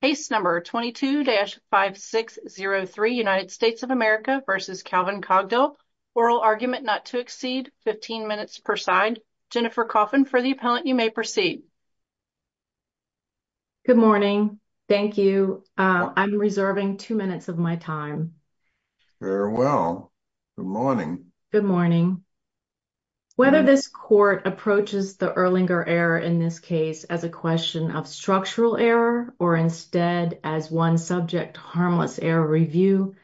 Case number 22-5603, United States of America v. Calvin Cogdill, Oral Argument Not to Exceed, 15 minutes per side. Jennifer Coffin, for the appellant, you may proceed. Good morning. Thank you. I'm reserving two minutes of my time. Very well. Good morning. Good morning. Whether this court approaches the Erlinger error in this case as a question of structural error or instead as one subject harmless error review,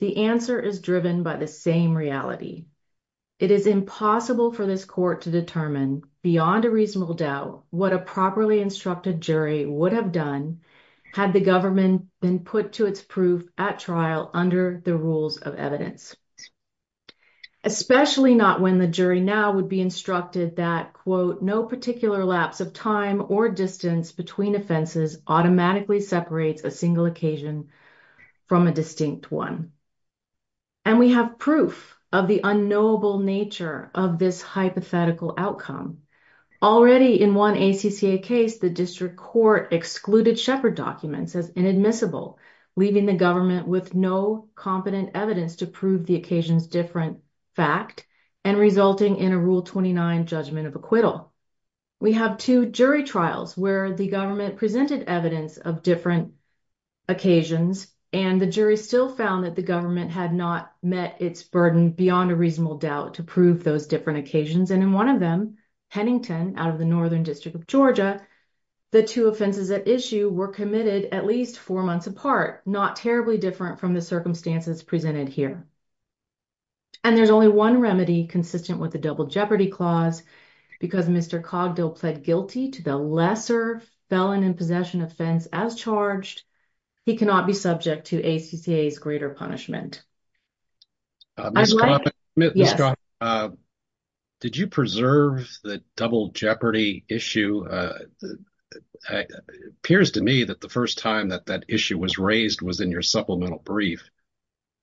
the answer is driven by the same reality. It is impossible for this court to determine, beyond a reasonable doubt, what a properly instructed jury would have done had the government been put to its proof at trial under the rules of evidence. Especially not when the jury now would be instructed that, quote, no particular lapse of time or distance between offenses automatically separates a single occasion from a distinct one. And we have proof of the unknowable nature of this hypothetical outcome. Already in one ACCA case, the district court excluded Shepard documents as inadmissible, leaving the government with no competent evidence to prove the occasion's different fact and resulting in a Rule 29 judgment of acquittal. We have two jury trials where the government presented evidence of different occasions, and the jury still found that the government had not met its burden beyond a reasonable doubt to prove those different occasions. And in one of them, Hennington, out of the Northern District of Georgia, the two offenses at issue were committed at least four months apart, not terribly different from the circumstances presented here. And there's only one remedy consistent with the Double Jeopardy Clause. Because Mr. Cogdill pled guilty to the lesser felon in possession offense as charged, he cannot be subject to ACCA's greater punishment. Mr. Cogdill, did you preserve the Double Jeopardy issue? It appears to me that the first time that that issue was raised was in your supplemental brief.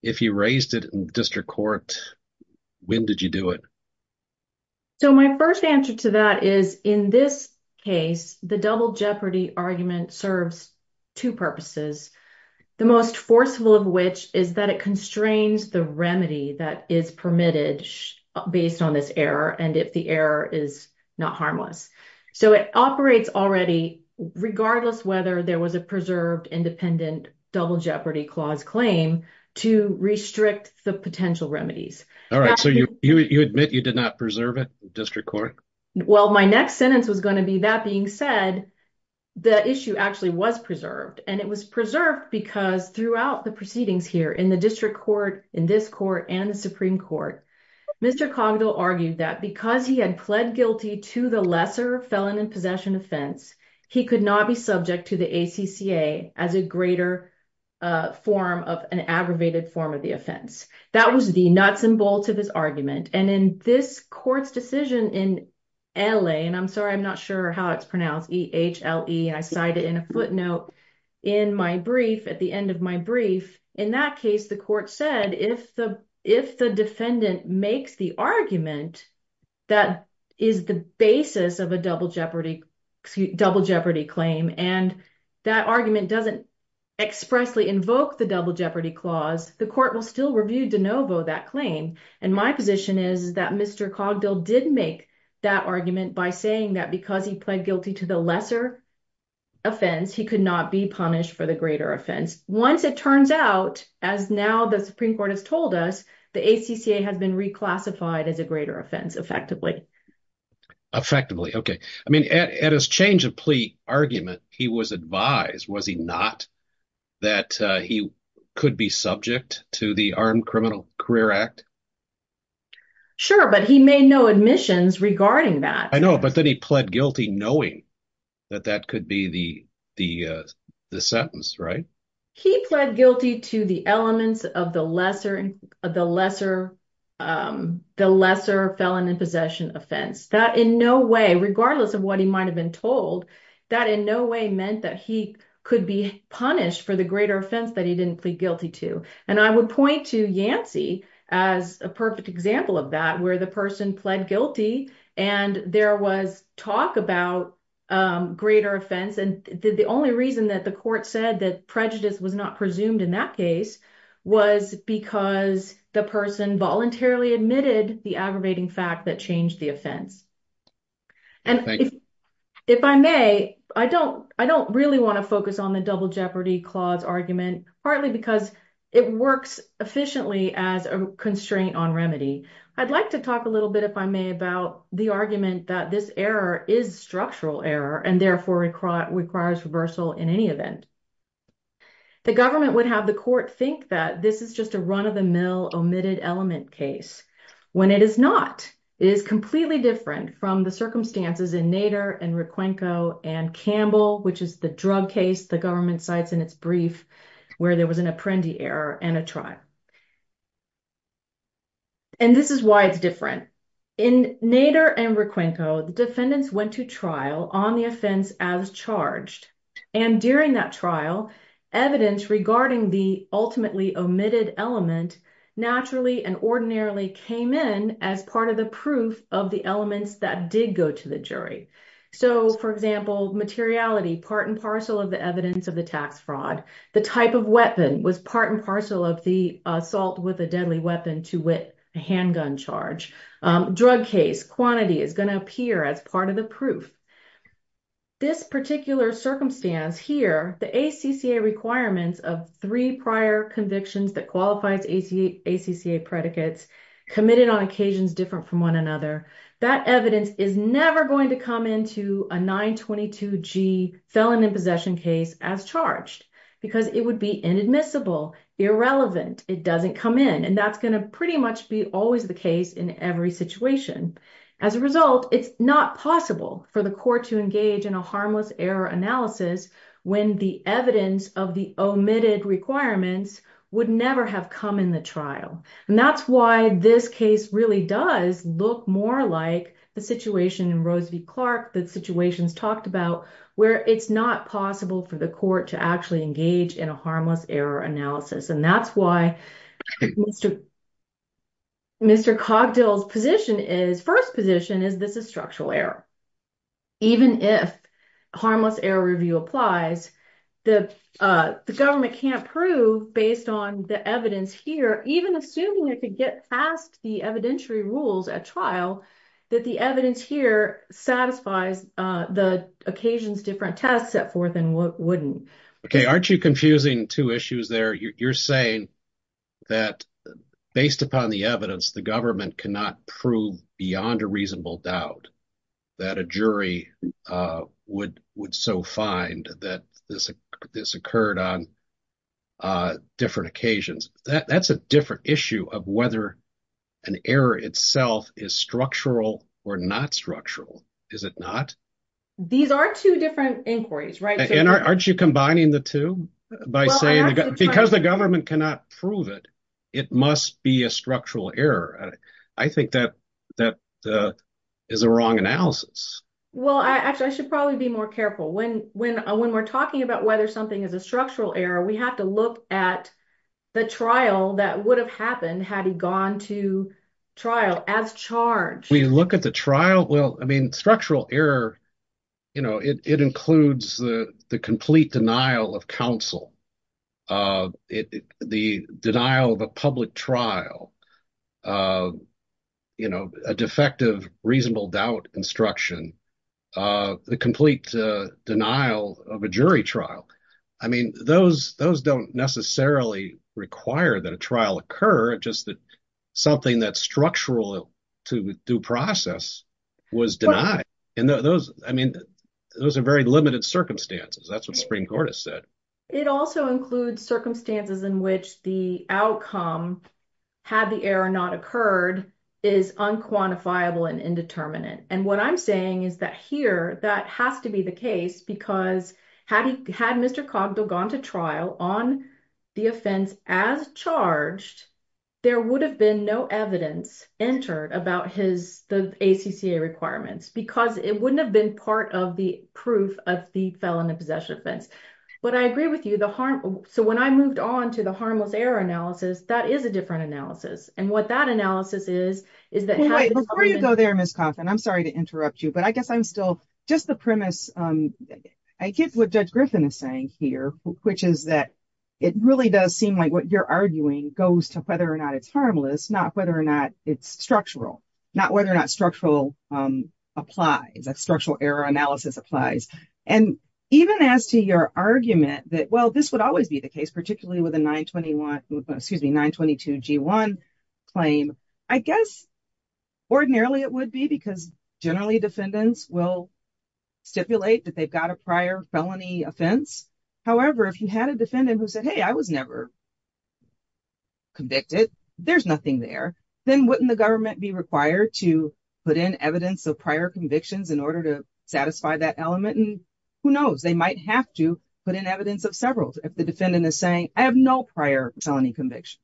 If you raised it in district court, when did you do it? So my first answer to that is, in this case, the Double Jeopardy argument serves two purposes, the most forcible of which is that it constrains the remedy that is permitted based on this error, and if the error is not harmless. So it operates already, regardless whether there was a preserved, independent Double Jeopardy Clause claim, to restrict the potential remedies. All right, so you admit you did not preserve it in district court? Well, my next sentence was going to be that being said, the issue actually was preserved. And it was preserved because throughout the proceedings here in the district court, in this court, and the Supreme Court, Mr. Cogdill argued that because he had pled guilty to the lesser felon in possession offense, he could not be subject to the ACCA as a greater form of an aggravated form of the offense. That was the nuts and bolts of his argument. And in this court's decision in L.A., and I'm sorry, I'm not sure how it's pronounced, E-H-L-E, and I cite it in a footnote in my brief, at the end of my brief, in that case, the court said, if the defendant makes the argument that is the basis of a Double Jeopardy claim, and that argument doesn't expressly invoke the Double Jeopardy Clause, the court will still review de novo that claim. And my position is that Mr. Cogdill did make that argument by saying that because he pled guilty to the lesser offense, he could not be punished for the greater offense. Once it turns out, as now the Supreme Court has told us, the ACCA has been reclassified as a greater offense, effectively. Effectively, okay. I mean, at his change of plea argument, he was advised, was he not, that he could be subject to the Armed Criminal Career Act? Sure, but he made no admissions regarding that. I know, but then he pled guilty knowing that that could be the sentence, right? He pled guilty to the elements of the lesser felon in possession offense. That in no way, regardless of what he might have been told, that in no way meant that he could be punished for the greater offense that he didn't plead guilty to. And I would point to Yancey as a perfect example of that, where the person pled guilty and there was talk about greater offense. And the only reason that the court said that prejudice was not presumed in that case was because the person voluntarily admitted the aggravating fact that changed the offense. And if I may, I don't really want to focus on the double jeopardy clause argument, partly because it works efficiently as a constraint on remedy. I'd like to talk a little bit, if I may, about the argument that this error is structural error and therefore requires reversal in any event. The government would have the court think that this is just a run-of-the-mill omitted element case. When it is not, it is completely different from the circumstances in Nader and Requenco and Campbell, which is the drug case the government cites in its brief where there was an apprendi error and a trial. And this is why it's different. In Nader and Requenco, the defendants went to trial on the offense as charged. And during that trial, evidence regarding the ultimately omitted element naturally and ordinarily came in as part of the proof of the elements that did go to the jury. So, for example, materiality, part and parcel of the evidence of the tax fraud. The type of weapon was part and parcel of the assault with a deadly weapon to wit, a handgun charge. Drug case quantity is going to appear as part of the proof. This particular circumstance here, the ACCA requirements of three prior convictions that qualified ACCA predicates committed on occasions different from one another. That evidence is never going to come into a 922G felon in possession case as charged because it would be inadmissible, irrelevant. It doesn't come in. And that's going to pretty much be always the case in every situation. As a result, it's not possible for the court to engage in a harmless error analysis when the evidence of the omitted requirements would never have come in the trial. And that's why this case really does look more like the situation in Rose v. Clark that situations talked about where it's not possible for the court to actually engage in a harmless error analysis. And that's why Mr. Cogdill's first position is this is structural error. Even if harmless error review applies, the government can't prove based on the evidence here, even assuming it could get past the evidentiary rules at trial, that the evidence here satisfies the occasions different test set forth and wouldn't. OK, aren't you confusing two issues there? You're saying that based upon the evidence, the government cannot prove beyond a reasonable doubt that a jury would would so find that this occurred on different occasions. That's a different issue of whether an error itself is structural or not structural. Is it not? These are two different inquiries. Right. And aren't you combining the two by saying because the government cannot prove it, it must be a structural error. I think that that is the wrong analysis. Well, I actually I should probably be more careful when when when we're talking about whether something is a structural error, we have to look at the trial. That would have happened had he gone to trial as charged. We look at the trial. Well, I mean, structural error. You know, it includes the complete denial of counsel, the denial of a public trial, you know, a defective reasonable doubt instruction, the complete denial of a jury trial. I mean, those those don't necessarily require that a trial occur. Just that something that's structural to due process was denied. And those I mean, those are very limited circumstances. That's what the Supreme Court has said. It also includes circumstances in which the outcome had the error not occurred is unquantifiable and indeterminate. And what I'm saying is that here that has to be the case because had he had Mr. Cogdell gone to trial on the offense as charged, there would have been no evidence entered about his the ACCA requirements because it wouldn't have been part of the proof of the felon in possession offense. But I agree with you the harm. So when I moved on to the harmless error analysis, that is a different analysis. And what that analysis is, is that before you go there, Ms. Kaufman, I'm sorry to interrupt you, but I guess I'm still just the premise. I get what Judge Griffin is saying here, which is that it really does seem like what you're arguing goes to whether or not it's harmless, not whether or not it's structural, not whether or not structural applies. And even as to your argument that, well, this would always be the case, particularly with a 921 excuse me, 922 G1 claim, I guess ordinarily it would be because generally defendants will stipulate that they've got a prior felony offense. However, if you had a defendant who said, hey, I was never convicted, there's nothing there, then wouldn't the government be required to put in evidence of prior convictions in order to satisfy that element? And who knows, they might have to put in evidence of several, if the defendant is saying, I have no prior felony conviction.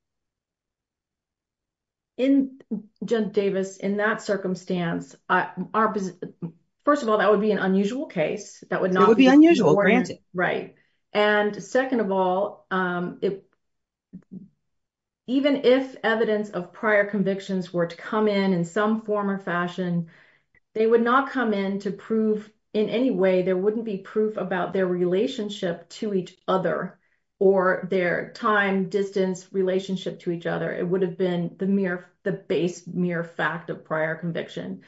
In Judge Davis, in that circumstance, first of all, that would be an unusual case. That would not be unusual, granted. Right. And second of all, even if evidence of prior convictions were to come in in some form or fashion, they would not come in to prove in any way, there wouldn't be proof about their relationship to each other or their time, distance, relationship to each other. It would have been the base mere fact of prior conviction.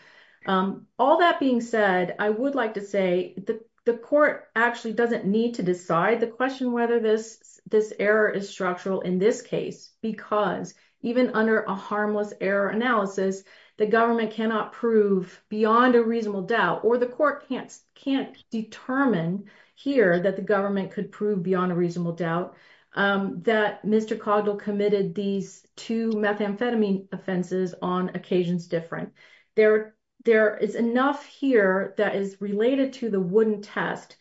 All that being said, I would like to say that the court actually doesn't need to decide the question whether this error is structural in this case, because even under a harmless error analysis, the government cannot prove beyond a reasonable doubt, or the court can't determine here that the government could prove beyond a reasonable doubt, that Mr. Cogdell committed these two methamphetamine offenses on occasions different. There is enough here that is related to the wooden test,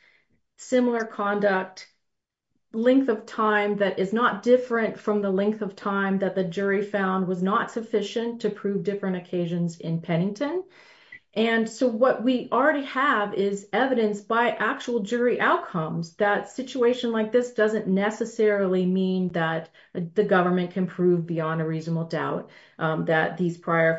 similar conduct, length of time that is not different from the length of time that the jury found was not sufficient to prove different occasions in Pennington. And so what we already have is evidence by actual jury outcomes that situation like this doesn't necessarily mean that the government can prove beyond a reasonable doubt that these prior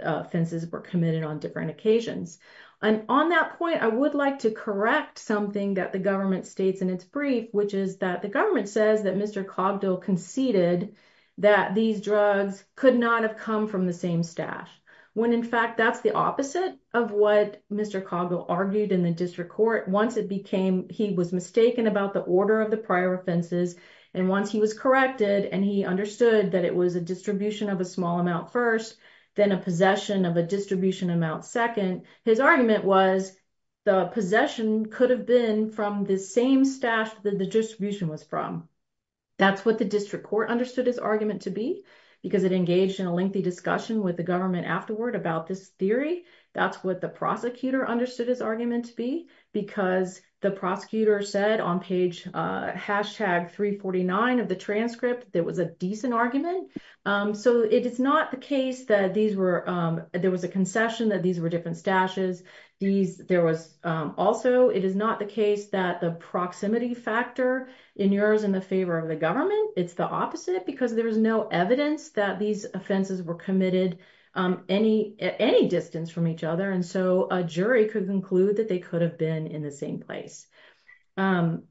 offenses were committed on different occasions. And on that point, I would like to correct something that the government states in its brief, which is that the government says that Mr. Cogdell conceded that these drugs could not have come from the same stash, when in fact that's the opposite of what Mr. Cogdell argued in the district court. Once he was mistaken about the order of the prior offenses, and once he was corrected and he understood that it was a distribution of a small amount first, then a possession of a distribution amount second, his argument was the possession could have been from the same stash that the distribution was from. That's what the district court understood his argument to be, because it engaged in a lengthy discussion with the government afterward about this theory. That's what the prosecutor understood his argument to be, because the prosecutor said on page hashtag 349 of the transcript, there was a decent argument. So it is not the case that there was a concession that these were different stashes. Also, it is not the case that the proximity factor in yours in the favor of the government, it's the opposite because there was no evidence that these offenses were committed any distance from each other. And so a jury could conclude that they could have been in the same place. And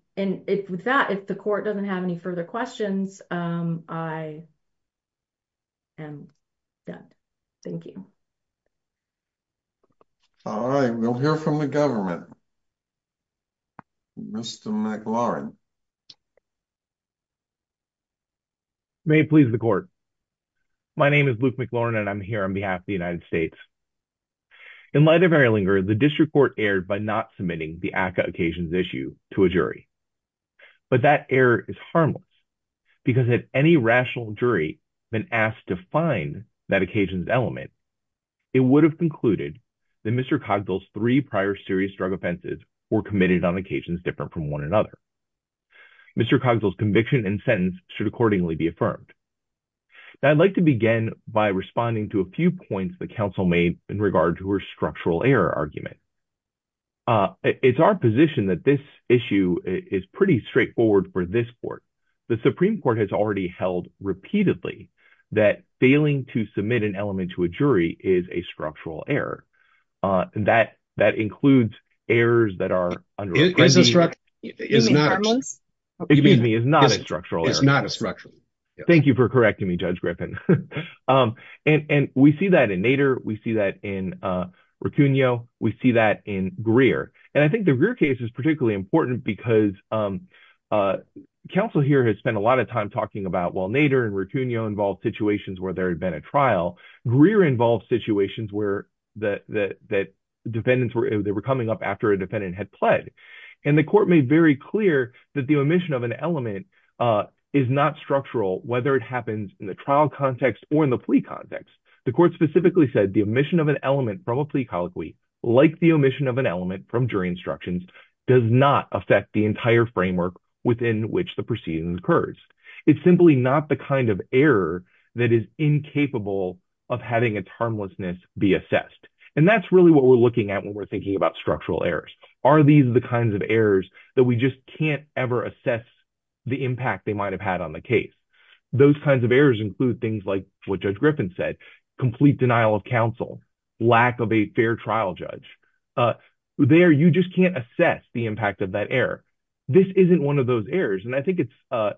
with that, if the court doesn't have any further questions, I am done. Thank you. All right, we'll hear from the government. Mr. McLaurin. May it please the court. My name is Luke McLaurin and I'm here on behalf of the United States. In light of Erlinger, the district court erred by not submitting the ACA occasions issue to a jury. But that error is harmless because if any rational jury been asked to find that occasions element, it would have concluded that Mr. Cogdell's three prior serious drug offenses were committed on occasions different from one another. Mr. Cogdell's conviction and sentence should accordingly be affirmed. I'd like to begin by responding to a few points the council made in regard to her structural error argument. It's our position that this issue is pretty straightforward for this court. The Supreme Court has already held repeatedly that failing to submit an element to a jury is a structural error. That includes errors that are. It is not a structural. It's not a structural. Thank you for correcting me, Judge Griffin. And we see that in Nader. We see that in Ricconeau. We see that in Greer. And I think the Greer case is particularly important because counsel here has spent a lot of time talking about while Nader and Ricconeau involved situations where there had been a trial. Greer involved situations where the defendants were coming up after a defendant had pled. And the court made very clear that the omission of an element is not structural, whether it happens in the trial context or in the plea context. The court specifically said the omission of an element from a plea colloquy, like the omission of an element from jury instructions, does not affect the entire framework within which the proceedings occurs. It's simply not the kind of error that is incapable of having its harmlessness be assessed. And that's really what we're looking at when we're thinking about structural errors. Are these the kinds of errors that we just can't ever assess the impact they might have had on the case? Those kinds of errors include things like what Judge Griffin said, complete denial of counsel, lack of a fair trial judge. There, you just can't assess the impact of that error. This isn't one of those errors. And I think it's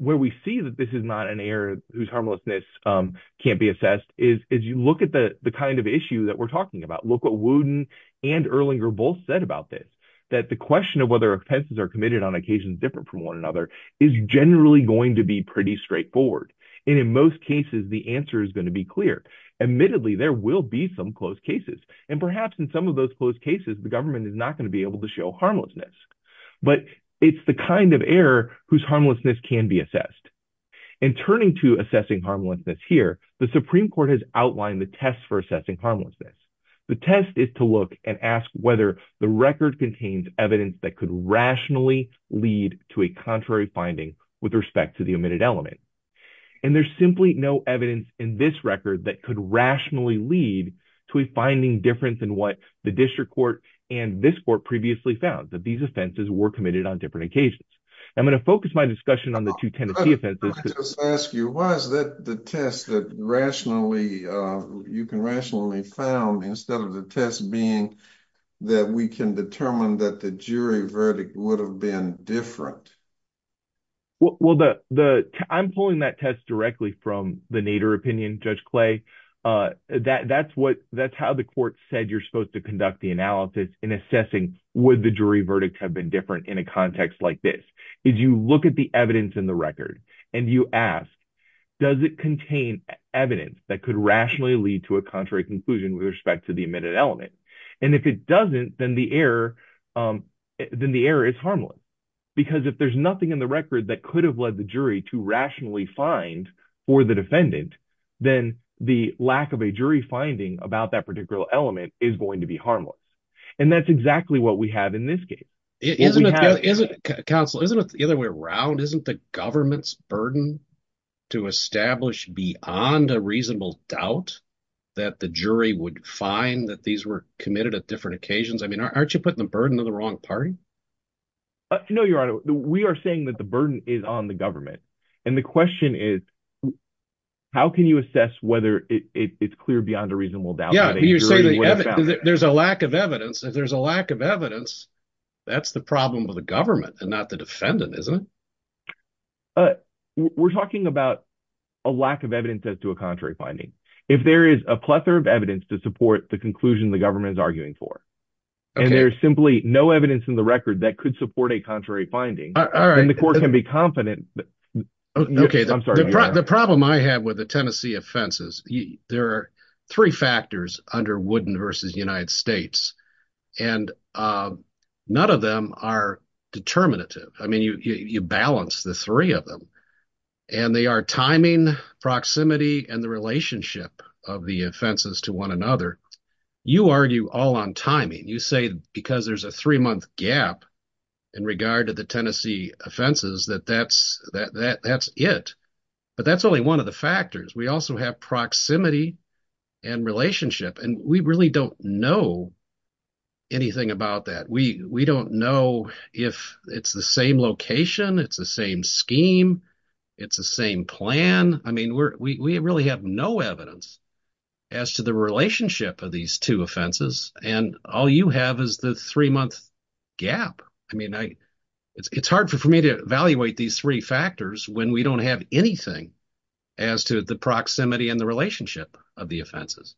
where we see that this is not an error whose harmlessness can't be assessed is you look at the kind of issue that we're talking about. Look what Wooten and Erlinger both said about this, that the question of whether offenses are committed on occasions different from one another is generally going to be pretty straightforward. And in most cases, the answer is going to be clear. Admittedly, there will be some closed cases. And perhaps in some of those closed cases, the government is not going to be able to show harmlessness. But it's the kind of error whose harmlessness can be assessed. In turning to assessing harmlessness here, the Supreme Court has outlined the test for assessing harmlessness. The test is to look and ask whether the record contains evidence that could rationally lead to a contrary finding with respect to the omitted element. And there's simply no evidence in this record that could rationally lead to a finding different than what the district court and this court previously found, that these offenses were committed on different occasions. I'm going to focus my discussion on the two Tennessee offenses. Let me just ask you, why is that the test that rationally, you can rationally found instead of the test being that we can determine that the jury verdict would have been different? Well, I'm pulling that test directly from the Nader opinion, Judge Clay. That's how the court said you're supposed to conduct the analysis in assessing would the jury verdict have been different in a context like this. If you look at the evidence in the record and you ask, does it contain evidence that could rationally lead to a contrary conclusion with respect to the omitted element? And if it doesn't, then the error is harmless. Because if there's nothing in the record that could have led the jury to rationally find for the defendant, then the lack of a jury finding about that particular element is going to be harmless. And that's exactly what we have in this case. Counsel, isn't it the other way around? Isn't the government's burden to establish beyond a reasonable doubt that the jury would find that these were committed at different occasions? I mean, aren't you putting the burden on the wrong party? No, Your Honor, we are saying that the burden is on the government. And the question is, how can you assess whether it's clear beyond a reasonable doubt? Yeah, you say there's a lack of evidence. If there's a lack of evidence, that's the problem with the government and not the defendant, isn't it? We're talking about a lack of evidence as to a contrary finding. If there is a plethora of evidence to support the conclusion the government is arguing for. And there's simply no evidence in the record that could support a contrary finding. Then the court can be confident. The problem I have with the Tennessee offenses, there are three factors under Wooden v. United States. And none of them are determinative. I mean, you balance the three of them. And they are timing, proximity, and the relationship of the offenses to one another. You argue all on timing. You say because there's a three-month gap in regard to the Tennessee offenses that that's it. But that's only one of the factors. We also have proximity and relationship. And we really don't know anything about that. We don't know if it's the same location, it's the same scheme, it's the same plan. I mean, we really have no evidence as to the relationship of these two offenses. And all you have is the three-month gap. I mean, it's hard for me to evaluate these three factors when we don't have anything as to the proximity and the relationship of the offenses.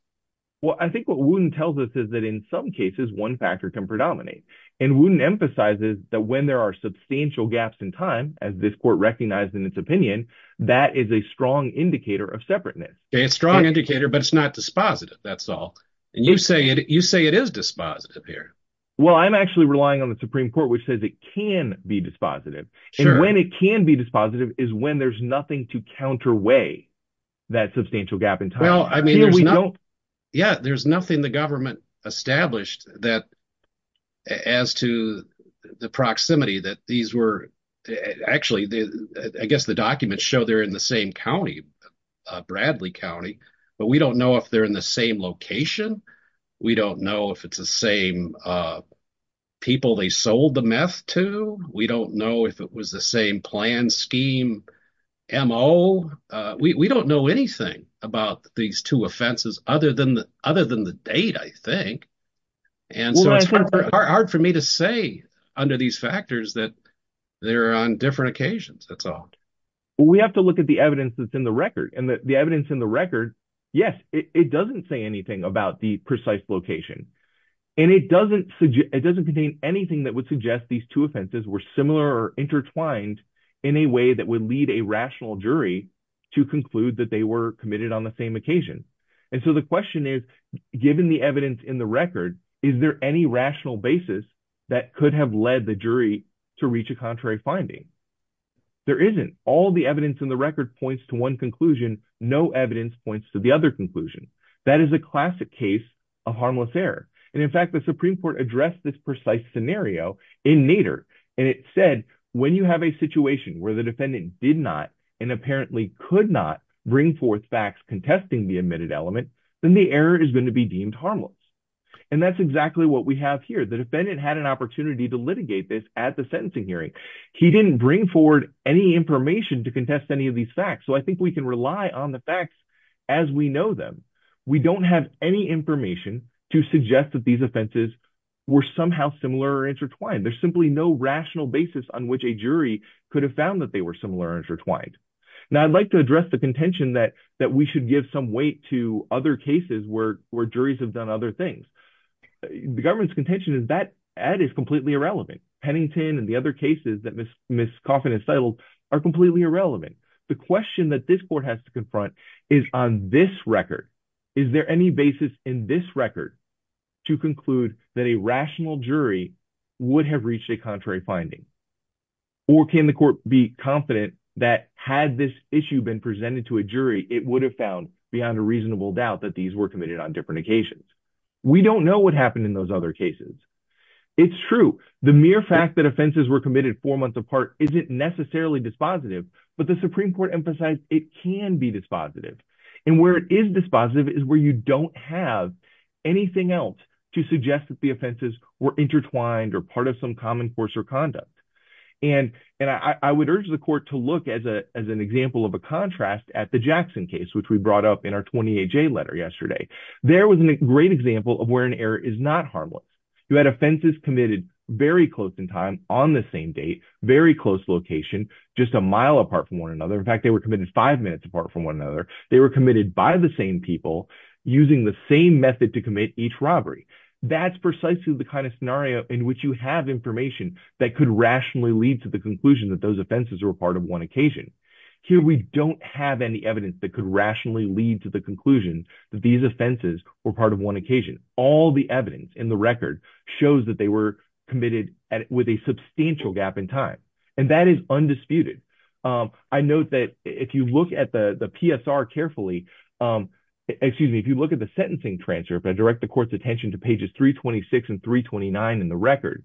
Well, I think what Wooden tells us is that in some cases one factor can predominate. And Wooden emphasizes that when there are substantial gaps in time, as this court recognized in its opinion, that is a strong indicator of separateness. It's a strong indicator, but it's not dispositive, that's all. And you say it is dispositive here. Well, I'm actually relying on the Supreme Court, which says it can be dispositive. And when it can be dispositive is when there's nothing to counterweigh that substantial gap in time. Yeah, there's nothing the government established as to the proximity that these were – actually, I guess the documents show they're in the same county, Bradley County. But we don't know if they're in the same location. We don't know if it's the same people they sold the meth to. We don't know if it was the same plan, scheme, MO. We don't know anything about these two offenses other than the date, I think. And so it's hard for me to say under these factors that they're on different occasions, that's all. We have to look at the evidence that's in the record. And the evidence in the record, yes, it doesn't say anything about the precise location. And it doesn't contain anything that would suggest these two offenses were similar or intertwined in a way that would lead a rational jury to conclude that they were committed on the same occasion. And so the question is, given the evidence in the record, is there any rational basis that could have led the jury to reach a contrary finding? There isn't. All the evidence in the record points to one conclusion. No evidence points to the other conclusion. That is a classic case of harmless error. And in fact, the Supreme Court addressed this precise scenario in Nader. And it said, when you have a situation where the defendant did not and apparently could not bring forth facts contesting the admitted element, then the error is going to be deemed harmless. And that's exactly what we have here. The defendant had an opportunity to litigate this at the sentencing hearing. He didn't bring forward any information to contest any of these facts. So I think we can rely on the facts as we know them. We don't have any information to suggest that these offenses were somehow similar or intertwined. There's simply no rational basis on which a jury could have found that they were similar or intertwined. Now, I'd like to address the contention that we should give some weight to other cases where juries have done other things. The government's contention is that ad is completely irrelevant. Pennington and the other cases that Ms. Coffin has titled are completely irrelevant. The question that this court has to confront is on this record. to conclude that a rational jury would have reached a contrary finding. Or can the court be confident that had this issue been presented to a jury, it would have found beyond a reasonable doubt that these were committed on different occasions. We don't know what happened in those other cases. It's true. The mere fact that offenses were committed four months apart isn't necessarily dispositive, but the Supreme Court emphasized it can be dispositive. And where it is dispositive is where you don't have anything else to suggest that the offenses were intertwined or part of some common course or conduct. And I would urge the court to look as an example of a contrast at the Jackson case, which we brought up in our 28-J letter yesterday. There was a great example of where an error is not harmless. You had offenses committed very close in time, on the same date, very close location, just a mile apart from one another. In fact, they were committed five minutes apart from one another. They were committed by the same people using the same method to commit each robbery. That's precisely the kind of scenario in which you have information that could rationally lead to the conclusion that those offenses were part of one occasion. Here we don't have any evidence that could rationally lead to the conclusion that these offenses were part of one occasion. All the evidence in the record shows that they were committed with a substantial gap in time. And that is undisputed. I note that if you look at the PSR carefully, excuse me, if you look at the sentencing transfer, if I direct the court's attention to pages 326 and 329 in the record,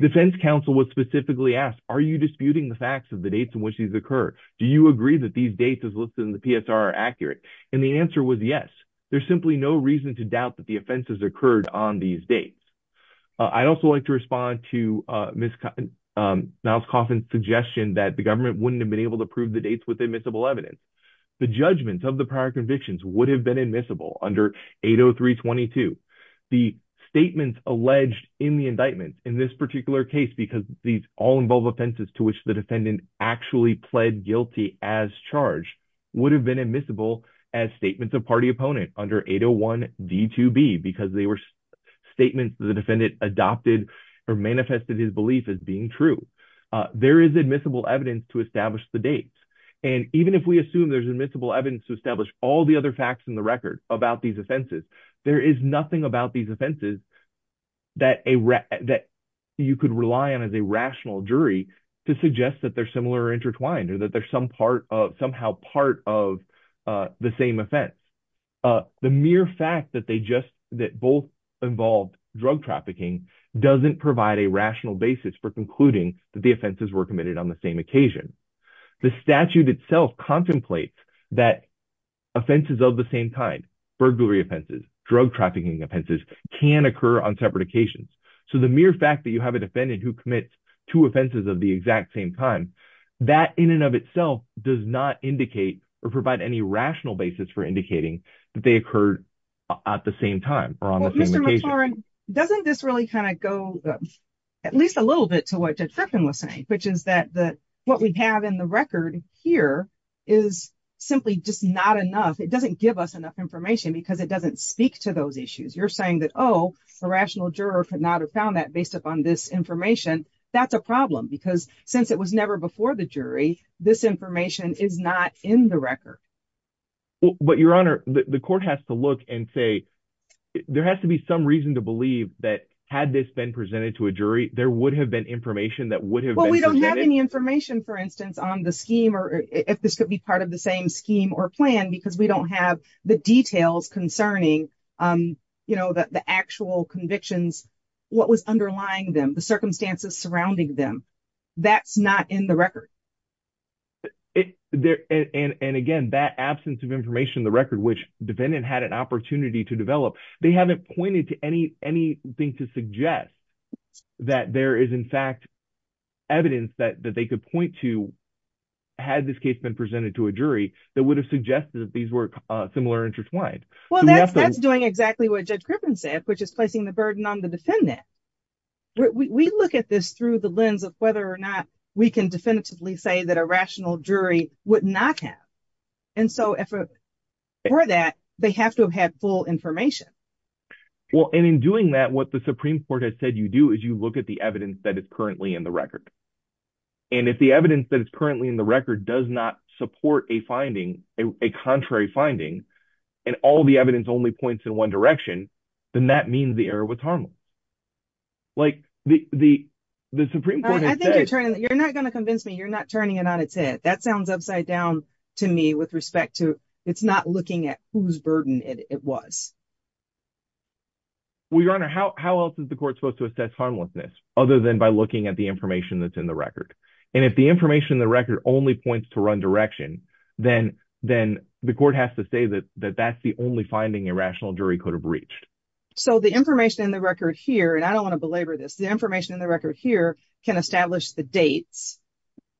defense counsel was specifically asked, are you disputing the facts of the dates in which these occur? Do you agree that these dates as listed in the PSR are accurate? And the answer was yes. There's simply no reason to doubt that the offenses occurred on these dates. I'd also like to respond to Ms. Miles-Coffin's suggestion that the government wouldn't have been able to prove the dates with admissible evidence. The judgments of the prior convictions would have been admissible under 80322. The statements alleged in the indictments in this particular case, because these all involve offenses to which the defendant actually pled guilty as charged, would have been admissible as statements of party opponent under 801D2B because they were statements the defendant adopted or manifested his belief as being true. There is admissible evidence to establish the dates. And even if we assume there's admissible evidence to establish all the other facts in the record about these offenses, there is nothing about these offenses that you could rely on as a rational jury to suggest that they're similar or intertwined or that they're somehow part of the same offense. The mere fact that both involved drug trafficking doesn't provide a rational basis for concluding that the offenses were committed on the same occasion. The statute itself contemplates that offenses of the same kind, burglary offenses, drug trafficking offenses, can occur on separate occasions. So the mere fact that you have a defendant who commits two offenses of the exact same time, that in and of itself does not indicate or provide any rational basis for indicating that they occurred at the same time or on the same occasion. Doesn't this really kind of go at least a little bit to what Judge Frickin was saying, which is that what we have in the record here is simply just not enough. It doesn't give us enough information because it doesn't speak to those issues. You're saying that, oh, a rational juror could not have found that based upon this information. That's a problem because since it was never before the jury, this information is not in the record. But, Your Honor, the court has to look and say there has to be some reason to believe that had this been presented to a jury, there would have been information that would have been presented. Well, we don't have any information, for instance, on the scheme or if this could be part of the same scheme or plan because we don't have the details concerning the actual convictions, what was underlying them, the circumstances surrounding them. That's not in the record. And again, that absence of information in the record, which the defendant had an opportunity to develop, they haven't pointed to anything to suggest that there is, in fact, evidence that they could point to had this case been presented to a jury that would have suggested that these were similar interests. Well, that's doing exactly what Judge Griffin said, which is placing the burden on the defendant. We look at this through the lens of whether or not we can definitively say that a rational jury would not have. And so for that, they have to have had full information. Well, and in doing that, what the Supreme Court has said you do is you look at the evidence that is currently in the record. And if the evidence that is currently in the record does not support a finding, a contrary finding, and all the evidence only points in one direction, then that means the error was harmless. Like the Supreme Court has said. I think you're not going to convince me you're not turning it on its head. That sounds upside down to me with respect to it's not looking at whose burden it was. Well, Your Honor, how else is the court supposed to assess harmlessness other than by looking at the information that's in the record? And if the information in the record only points to one direction, then the court has to say that that's the only finding a rational jury could have reached. So the information in the record here, and I don't want to belabor this, the information in the record here can establish the dates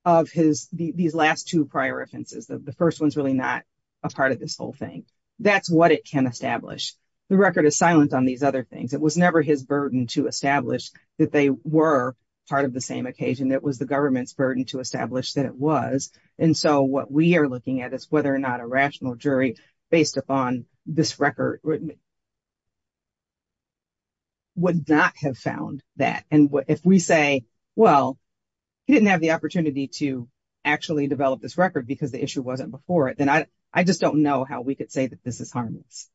of these last two prior offenses. The first one's really not a part of this whole thing. That's what it can establish. The record is silent on these other things. It was never his burden to establish that they were part of the same occasion. It was the government's burden to establish that it was. And so what we are looking at is whether or not a rational jury based upon this record would not have found that. And if we say, well, he didn't have the opportunity to actually develop this record because the issue wasn't before it, then I just don't know how we could say that this is harmless.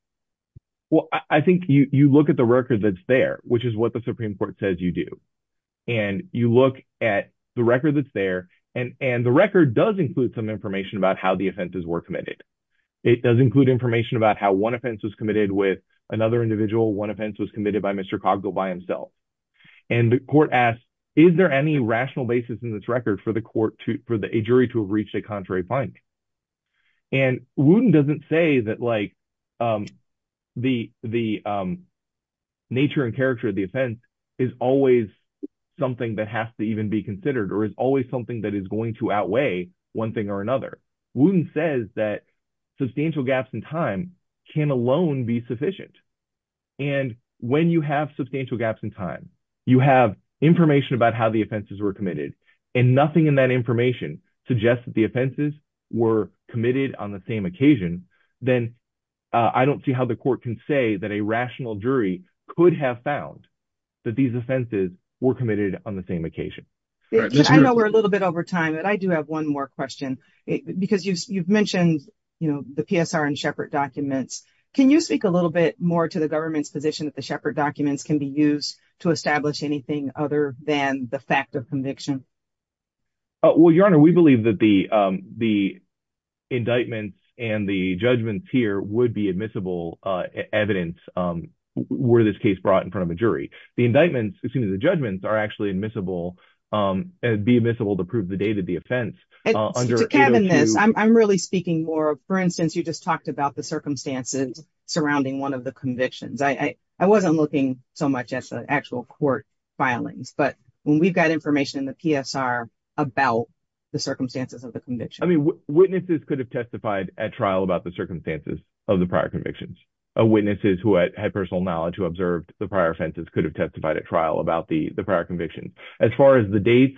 Well, I think you look at the record that's there, which is what the Supreme Court says you do. And you look at the record that's there. And the record does include some information about how the offenses were committed. It does include information about how one offense was committed with another individual. One offense was committed by Mr. Coggill by himself. And the court asks, is there any rational basis in this record for a jury to have reached a contrary finding? And Wooten doesn't say that the nature and character of the offense is always something that has to even be considered or is always something that is going to outweigh one thing or another. Wooten says that substantial gaps in time can alone be sufficient. And when you have substantial gaps in time, you have information about how the offenses were committed and nothing in that information suggests that the offenses were committed on the same occasion, then I don't see how the court can say that a rational jury could have found that these offenses were committed on the same occasion. I know we're a little bit over time, but I do have one more question because you've mentioned the PSR and Shepard documents. Can you speak a little bit more to the government's position that the Shepard documents can be used to establish anything other than the fact of conviction? Well, Your Honor, we believe that the indictments and the judgments here would be admissible evidence were this case brought in front of a jury. The indictments, excuse me, the judgments are actually admissible and be admissible to prove the date of the offense. To cabin this, I'm really speaking more, for instance, you just talked about the circumstances surrounding one of the convictions. I wasn't looking so much at the actual court filings, but when we've got information in the PSR about the circumstances of the conviction. I mean, witnesses could have testified at trial about the circumstances of the prior convictions. Witnesses who had personal knowledge who observed the prior offenses could have testified at trial about the prior conviction. As far as the dates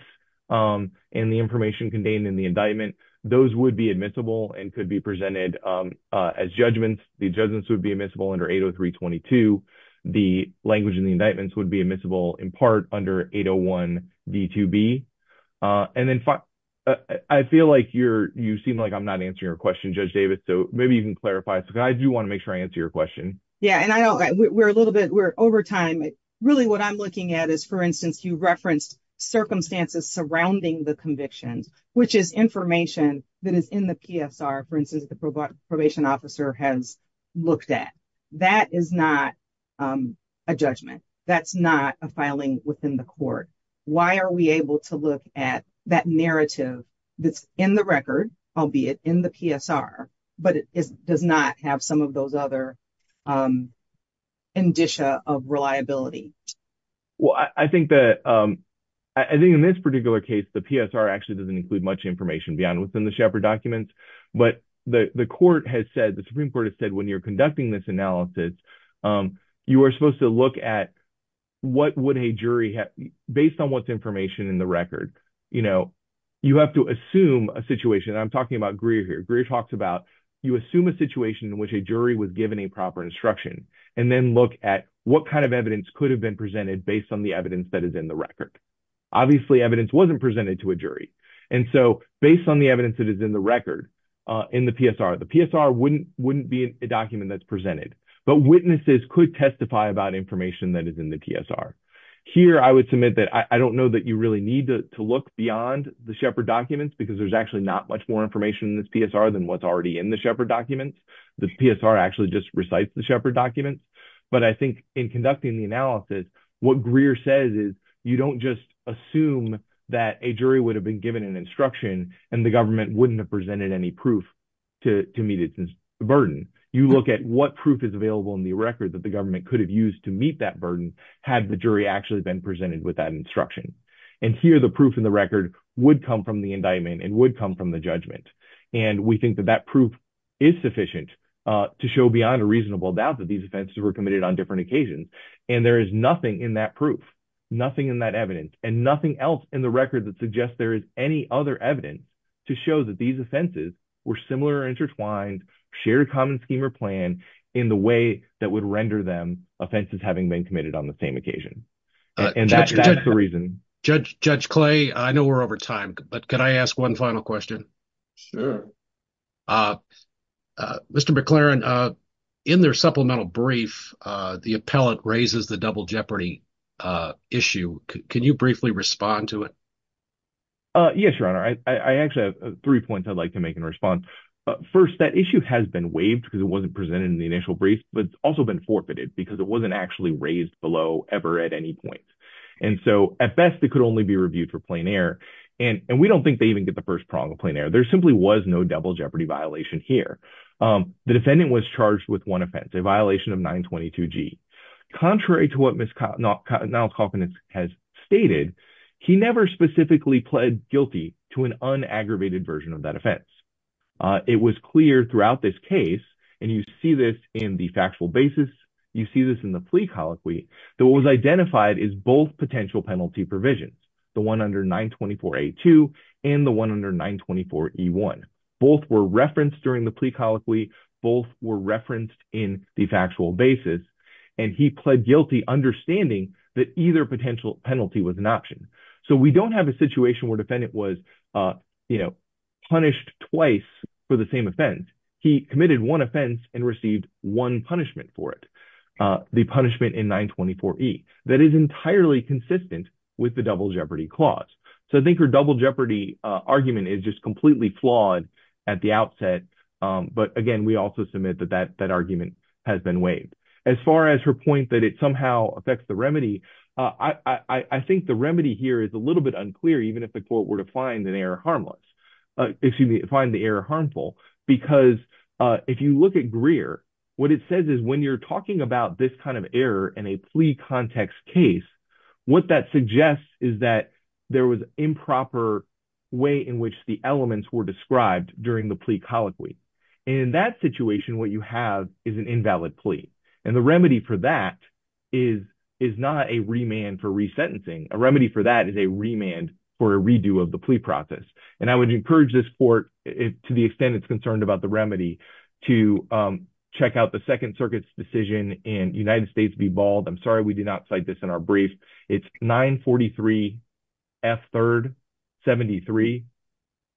and the information contained in the indictment, those would be admissible and could be presented as judgments. The judgments would be admissible under 803 22. The language in the indictments would be admissible in part under 801 B to B. And then I feel like you're you seem like I'm not answering your question, Judge Davis. So maybe you can clarify. So I do want to make sure I answer your question. Yeah. And I know we're a little bit we're over time. Really, what I'm looking at is, for instance, you referenced circumstances surrounding the convictions, which is information that is in the PSR. For instance, the probation officer has looked at. That is not a judgment. That's not a filing within the court. Why are we able to look at that narrative that's in the record, albeit in the PSR, but it does not have some of those other indicia of reliability? Well, I think that I think in this particular case, the PSR actually doesn't include much information beyond within the Shepard documents. But the court has said the Supreme Court has said when you're conducting this analysis, you are supposed to look at what would a jury have based on what's information in the record. You know, you have to assume a situation. I'm talking about Greer here. Greer talks about you assume a situation in which a jury was given a proper instruction and then look at what kind of evidence could have been presented based on the evidence that is in the record. Obviously, evidence wasn't presented to a jury. And so based on the evidence that is in the record in the PSR, the PSR wouldn't be a document that's presented. But witnesses could testify about information that is in the PSR. Here, I would submit that I don't know that you really need to look beyond the Shepard documents because there's actually not much more information in this PSR than what's already in the Shepard documents. The PSR actually just recites the Shepard documents. But I think in conducting the analysis, what Greer says is you don't just assume that a jury would have been given an instruction and the government wouldn't have presented any proof to meet its burden. You look at what proof is available in the record that the government could have used to meet that burden had the jury actually been presented with that instruction. And here the proof in the record would come from the indictment and would come from the judgment. And we think that that proof is sufficient to show beyond a reasonable doubt that these offenses were committed on different occasions. And there is nothing in that proof, nothing in that evidence, and nothing else in the record that suggests there is any other evidence to show that these offenses were similar or intertwined, shared common scheme or plan in the way that would render them offenses having been committed on the same occasion. And that's the reason. Judge Clay, I know we're over time, but can I ask one final question? Mr. McLaren, in their supplemental brief, the appellate raises the double jeopardy issue. Can you briefly respond to it? Yes, Your Honor, I actually have three points I'd like to make in response. First, that issue has been waived because it wasn't presented in the initial brief, but it's also been forfeited because it wasn't actually raised below ever at any point. And so at best, it could only be reviewed for plain error. And we don't think they even get the first prong of plain error. There simply was no double jeopardy violation here. The defendant was charged with one offense, a violation of 922G. Contrary to what Ms. Niles-Kauffman has stated, he never specifically pled guilty to an unaggravated version of that offense. It was clear throughout this case, and you see this in the factual basis, you see this in the plea colloquy, that what was identified is both potential penalty provisions, the one under 924A2 and the one under 924E1. Both were referenced during the plea colloquy. Both were referenced in the factual basis. And he pled guilty, understanding that either potential penalty was an option. So we don't have a situation where a defendant was punished twice for the same offense. He committed one offense and received one punishment for it, the punishment in 924E. That is entirely consistent with the double jeopardy clause. So I think her double jeopardy argument is just completely flawed at the outset. But again, we also submit that that argument has been waived. As far as her point that it somehow affects the remedy, I think the remedy here is a little bit unclear, even if the court were to find the error harmful. Because if you look at Greer, what it says is when you're talking about this kind of error in a plea context case, what that suggests is that there was improper way in which the elements were described during the plea colloquy. And in that situation, what you have is an invalid plea. And the remedy for that is not a remand for resentencing. A remedy for that is a remand for a redo of the plea process. And I would encourage this court, to the extent it's concerned about the remedy, to check out the Second Circuit's decision in United States v. Bald. I'm sorry we did not cite this in our brief. It's 943F3rd73,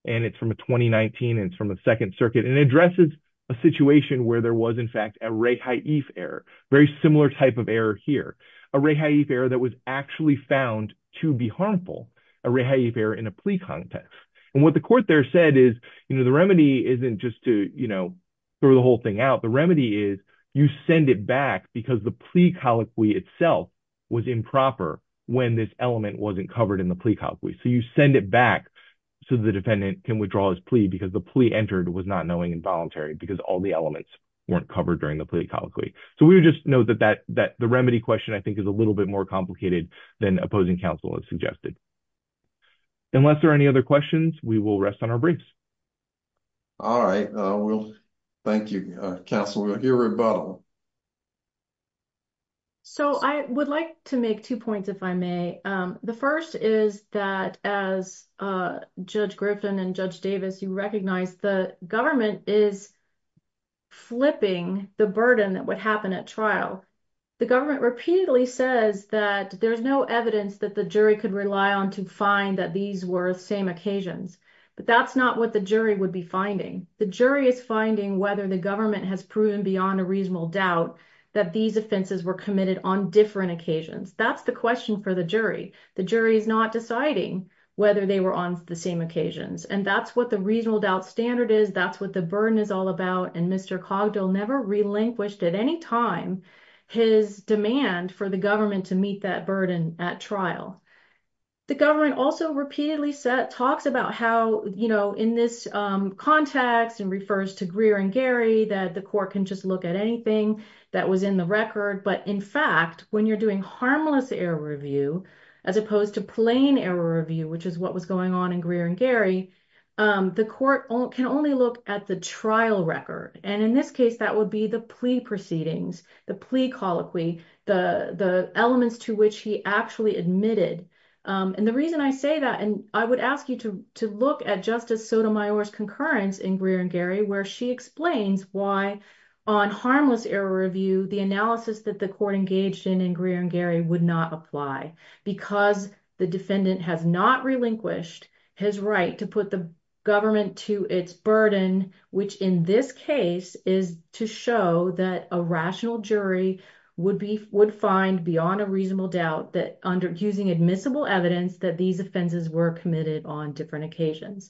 and it's from a 2019, and it's from the Second Circuit. And it addresses a situation where there was, in fact, a rehaif error, very similar type of error here. A rehaif error that was actually found to be harmful, a rehaif error in a plea context. And what the court there said is, you know, the remedy isn't just to, you know, throw the whole thing out. The remedy is you send it back because the plea colloquy itself was improper when this element wasn't covered in the plea colloquy. So you send it back so the defendant can withdraw his plea because the plea entered was not knowing and voluntary because all the elements weren't covered during the plea colloquy. So we would just note that the remedy question, I think, is a little bit more complicated than opposing counsel has suggested. Unless there are any other questions, we will rest on our briefs. All right. Thank you, counsel. We'll hear rebuttal. So I would like to make two points, if I may. The first is that as Judge Griffin and Judge Davis, you recognize the government is flipping the burden that would happen at trial. The government repeatedly says that there's no evidence that the jury could rely on to find that these were same occasions. But that's not what the jury would be finding. The jury is finding whether the government has proven beyond a reasonable doubt that these offenses were committed on different occasions. That's the question for the jury. The jury is not deciding whether they were on the same occasions. And that's what the reasonable doubt standard is. That's what the burden is all about. And Mr. Cogdell never relinquished at any time his demand for the government to meet that burden at trial. The government also repeatedly talks about how, you know, in this context and refers to Greer and Gary, that the court can just look at anything that was in the record. But in fact, when you're doing harmless error review, as opposed to plain error review, which is what was going on in Greer and Gary, the court can only look at the trial record. And in this case, that would be the plea proceedings, the plea colloquy, the elements to which he actually admitted. And the reason I say that, and I would ask you to look at Justice Sotomayor's concurrence in Greer and Gary, where she explains why on harmless error review, the analysis that the court engaged in in Greer and Gary would not apply. Because the defendant has not relinquished his right to put the government to its burden, which in this case is to show that a rational jury would find beyond a reasonable doubt that under using admissible evidence that these offenses were committed on different occasions.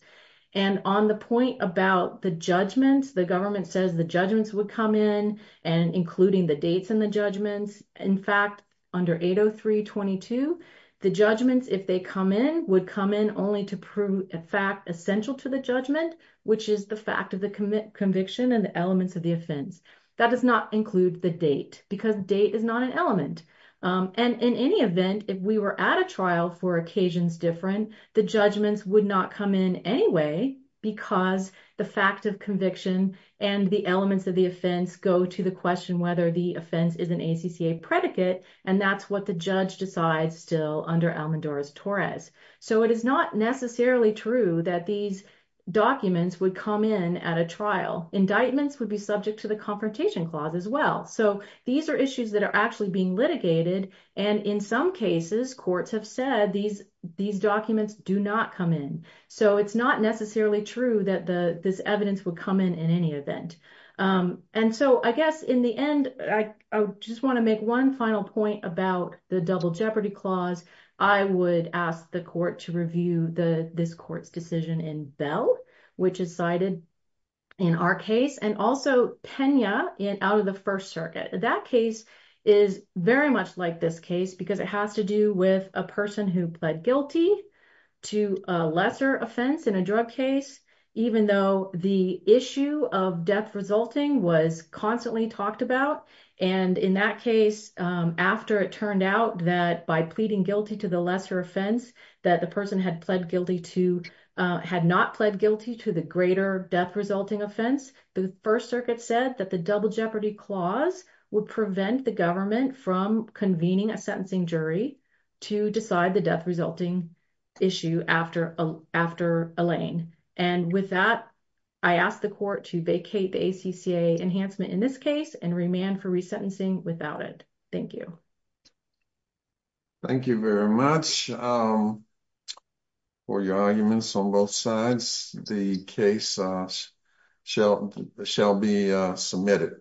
And on the point about the judgments, the government says the judgments would come in and including the dates and the judgments. In fact, under 803.22, the judgments, if they come in, would come in only to prove a fact essential to the judgment, which is the fact of the conviction and the elements of the offense. That does not include the date, because date is not an element. And in any event, if we were at a trial for occasions different, the judgments would not come in anyway, because the fact of conviction and the elements of the offense go to the question whether the offense is an ACCA predicate. And that's what the judge decides still under Almendora's Torres. So it is not necessarily true that these documents would come in at a trial. Indictments would be subject to the Confrontation Clause as well. So these are issues that are actually being litigated. And in some cases, courts have said these documents do not come in. So it's not necessarily true that this evidence would come in in any event. And so I guess in the end, I just want to make one final point about the Double Jeopardy Clause. I would ask the court to review this court's decision in Bell, which is cited in our case, and also Pena out of the First Circuit. That case is very much like this case because it has to do with a person who pled guilty to a lesser offense in a drug case, even though the issue of death resulting was constantly talked about. And in that case, after it turned out that by pleading guilty to the lesser offense, that the person had not pled guilty to the greater death resulting offense, the First Circuit said that the Double Jeopardy Clause would prevent the government from convening a sentencing jury to decide the death resulting issue after Elaine. And with that, I ask the court to vacate the ACCA enhancement in this case and remand for resentencing without it. Thank you. Thank you very much for your arguments on both sides. The case shall be submitted.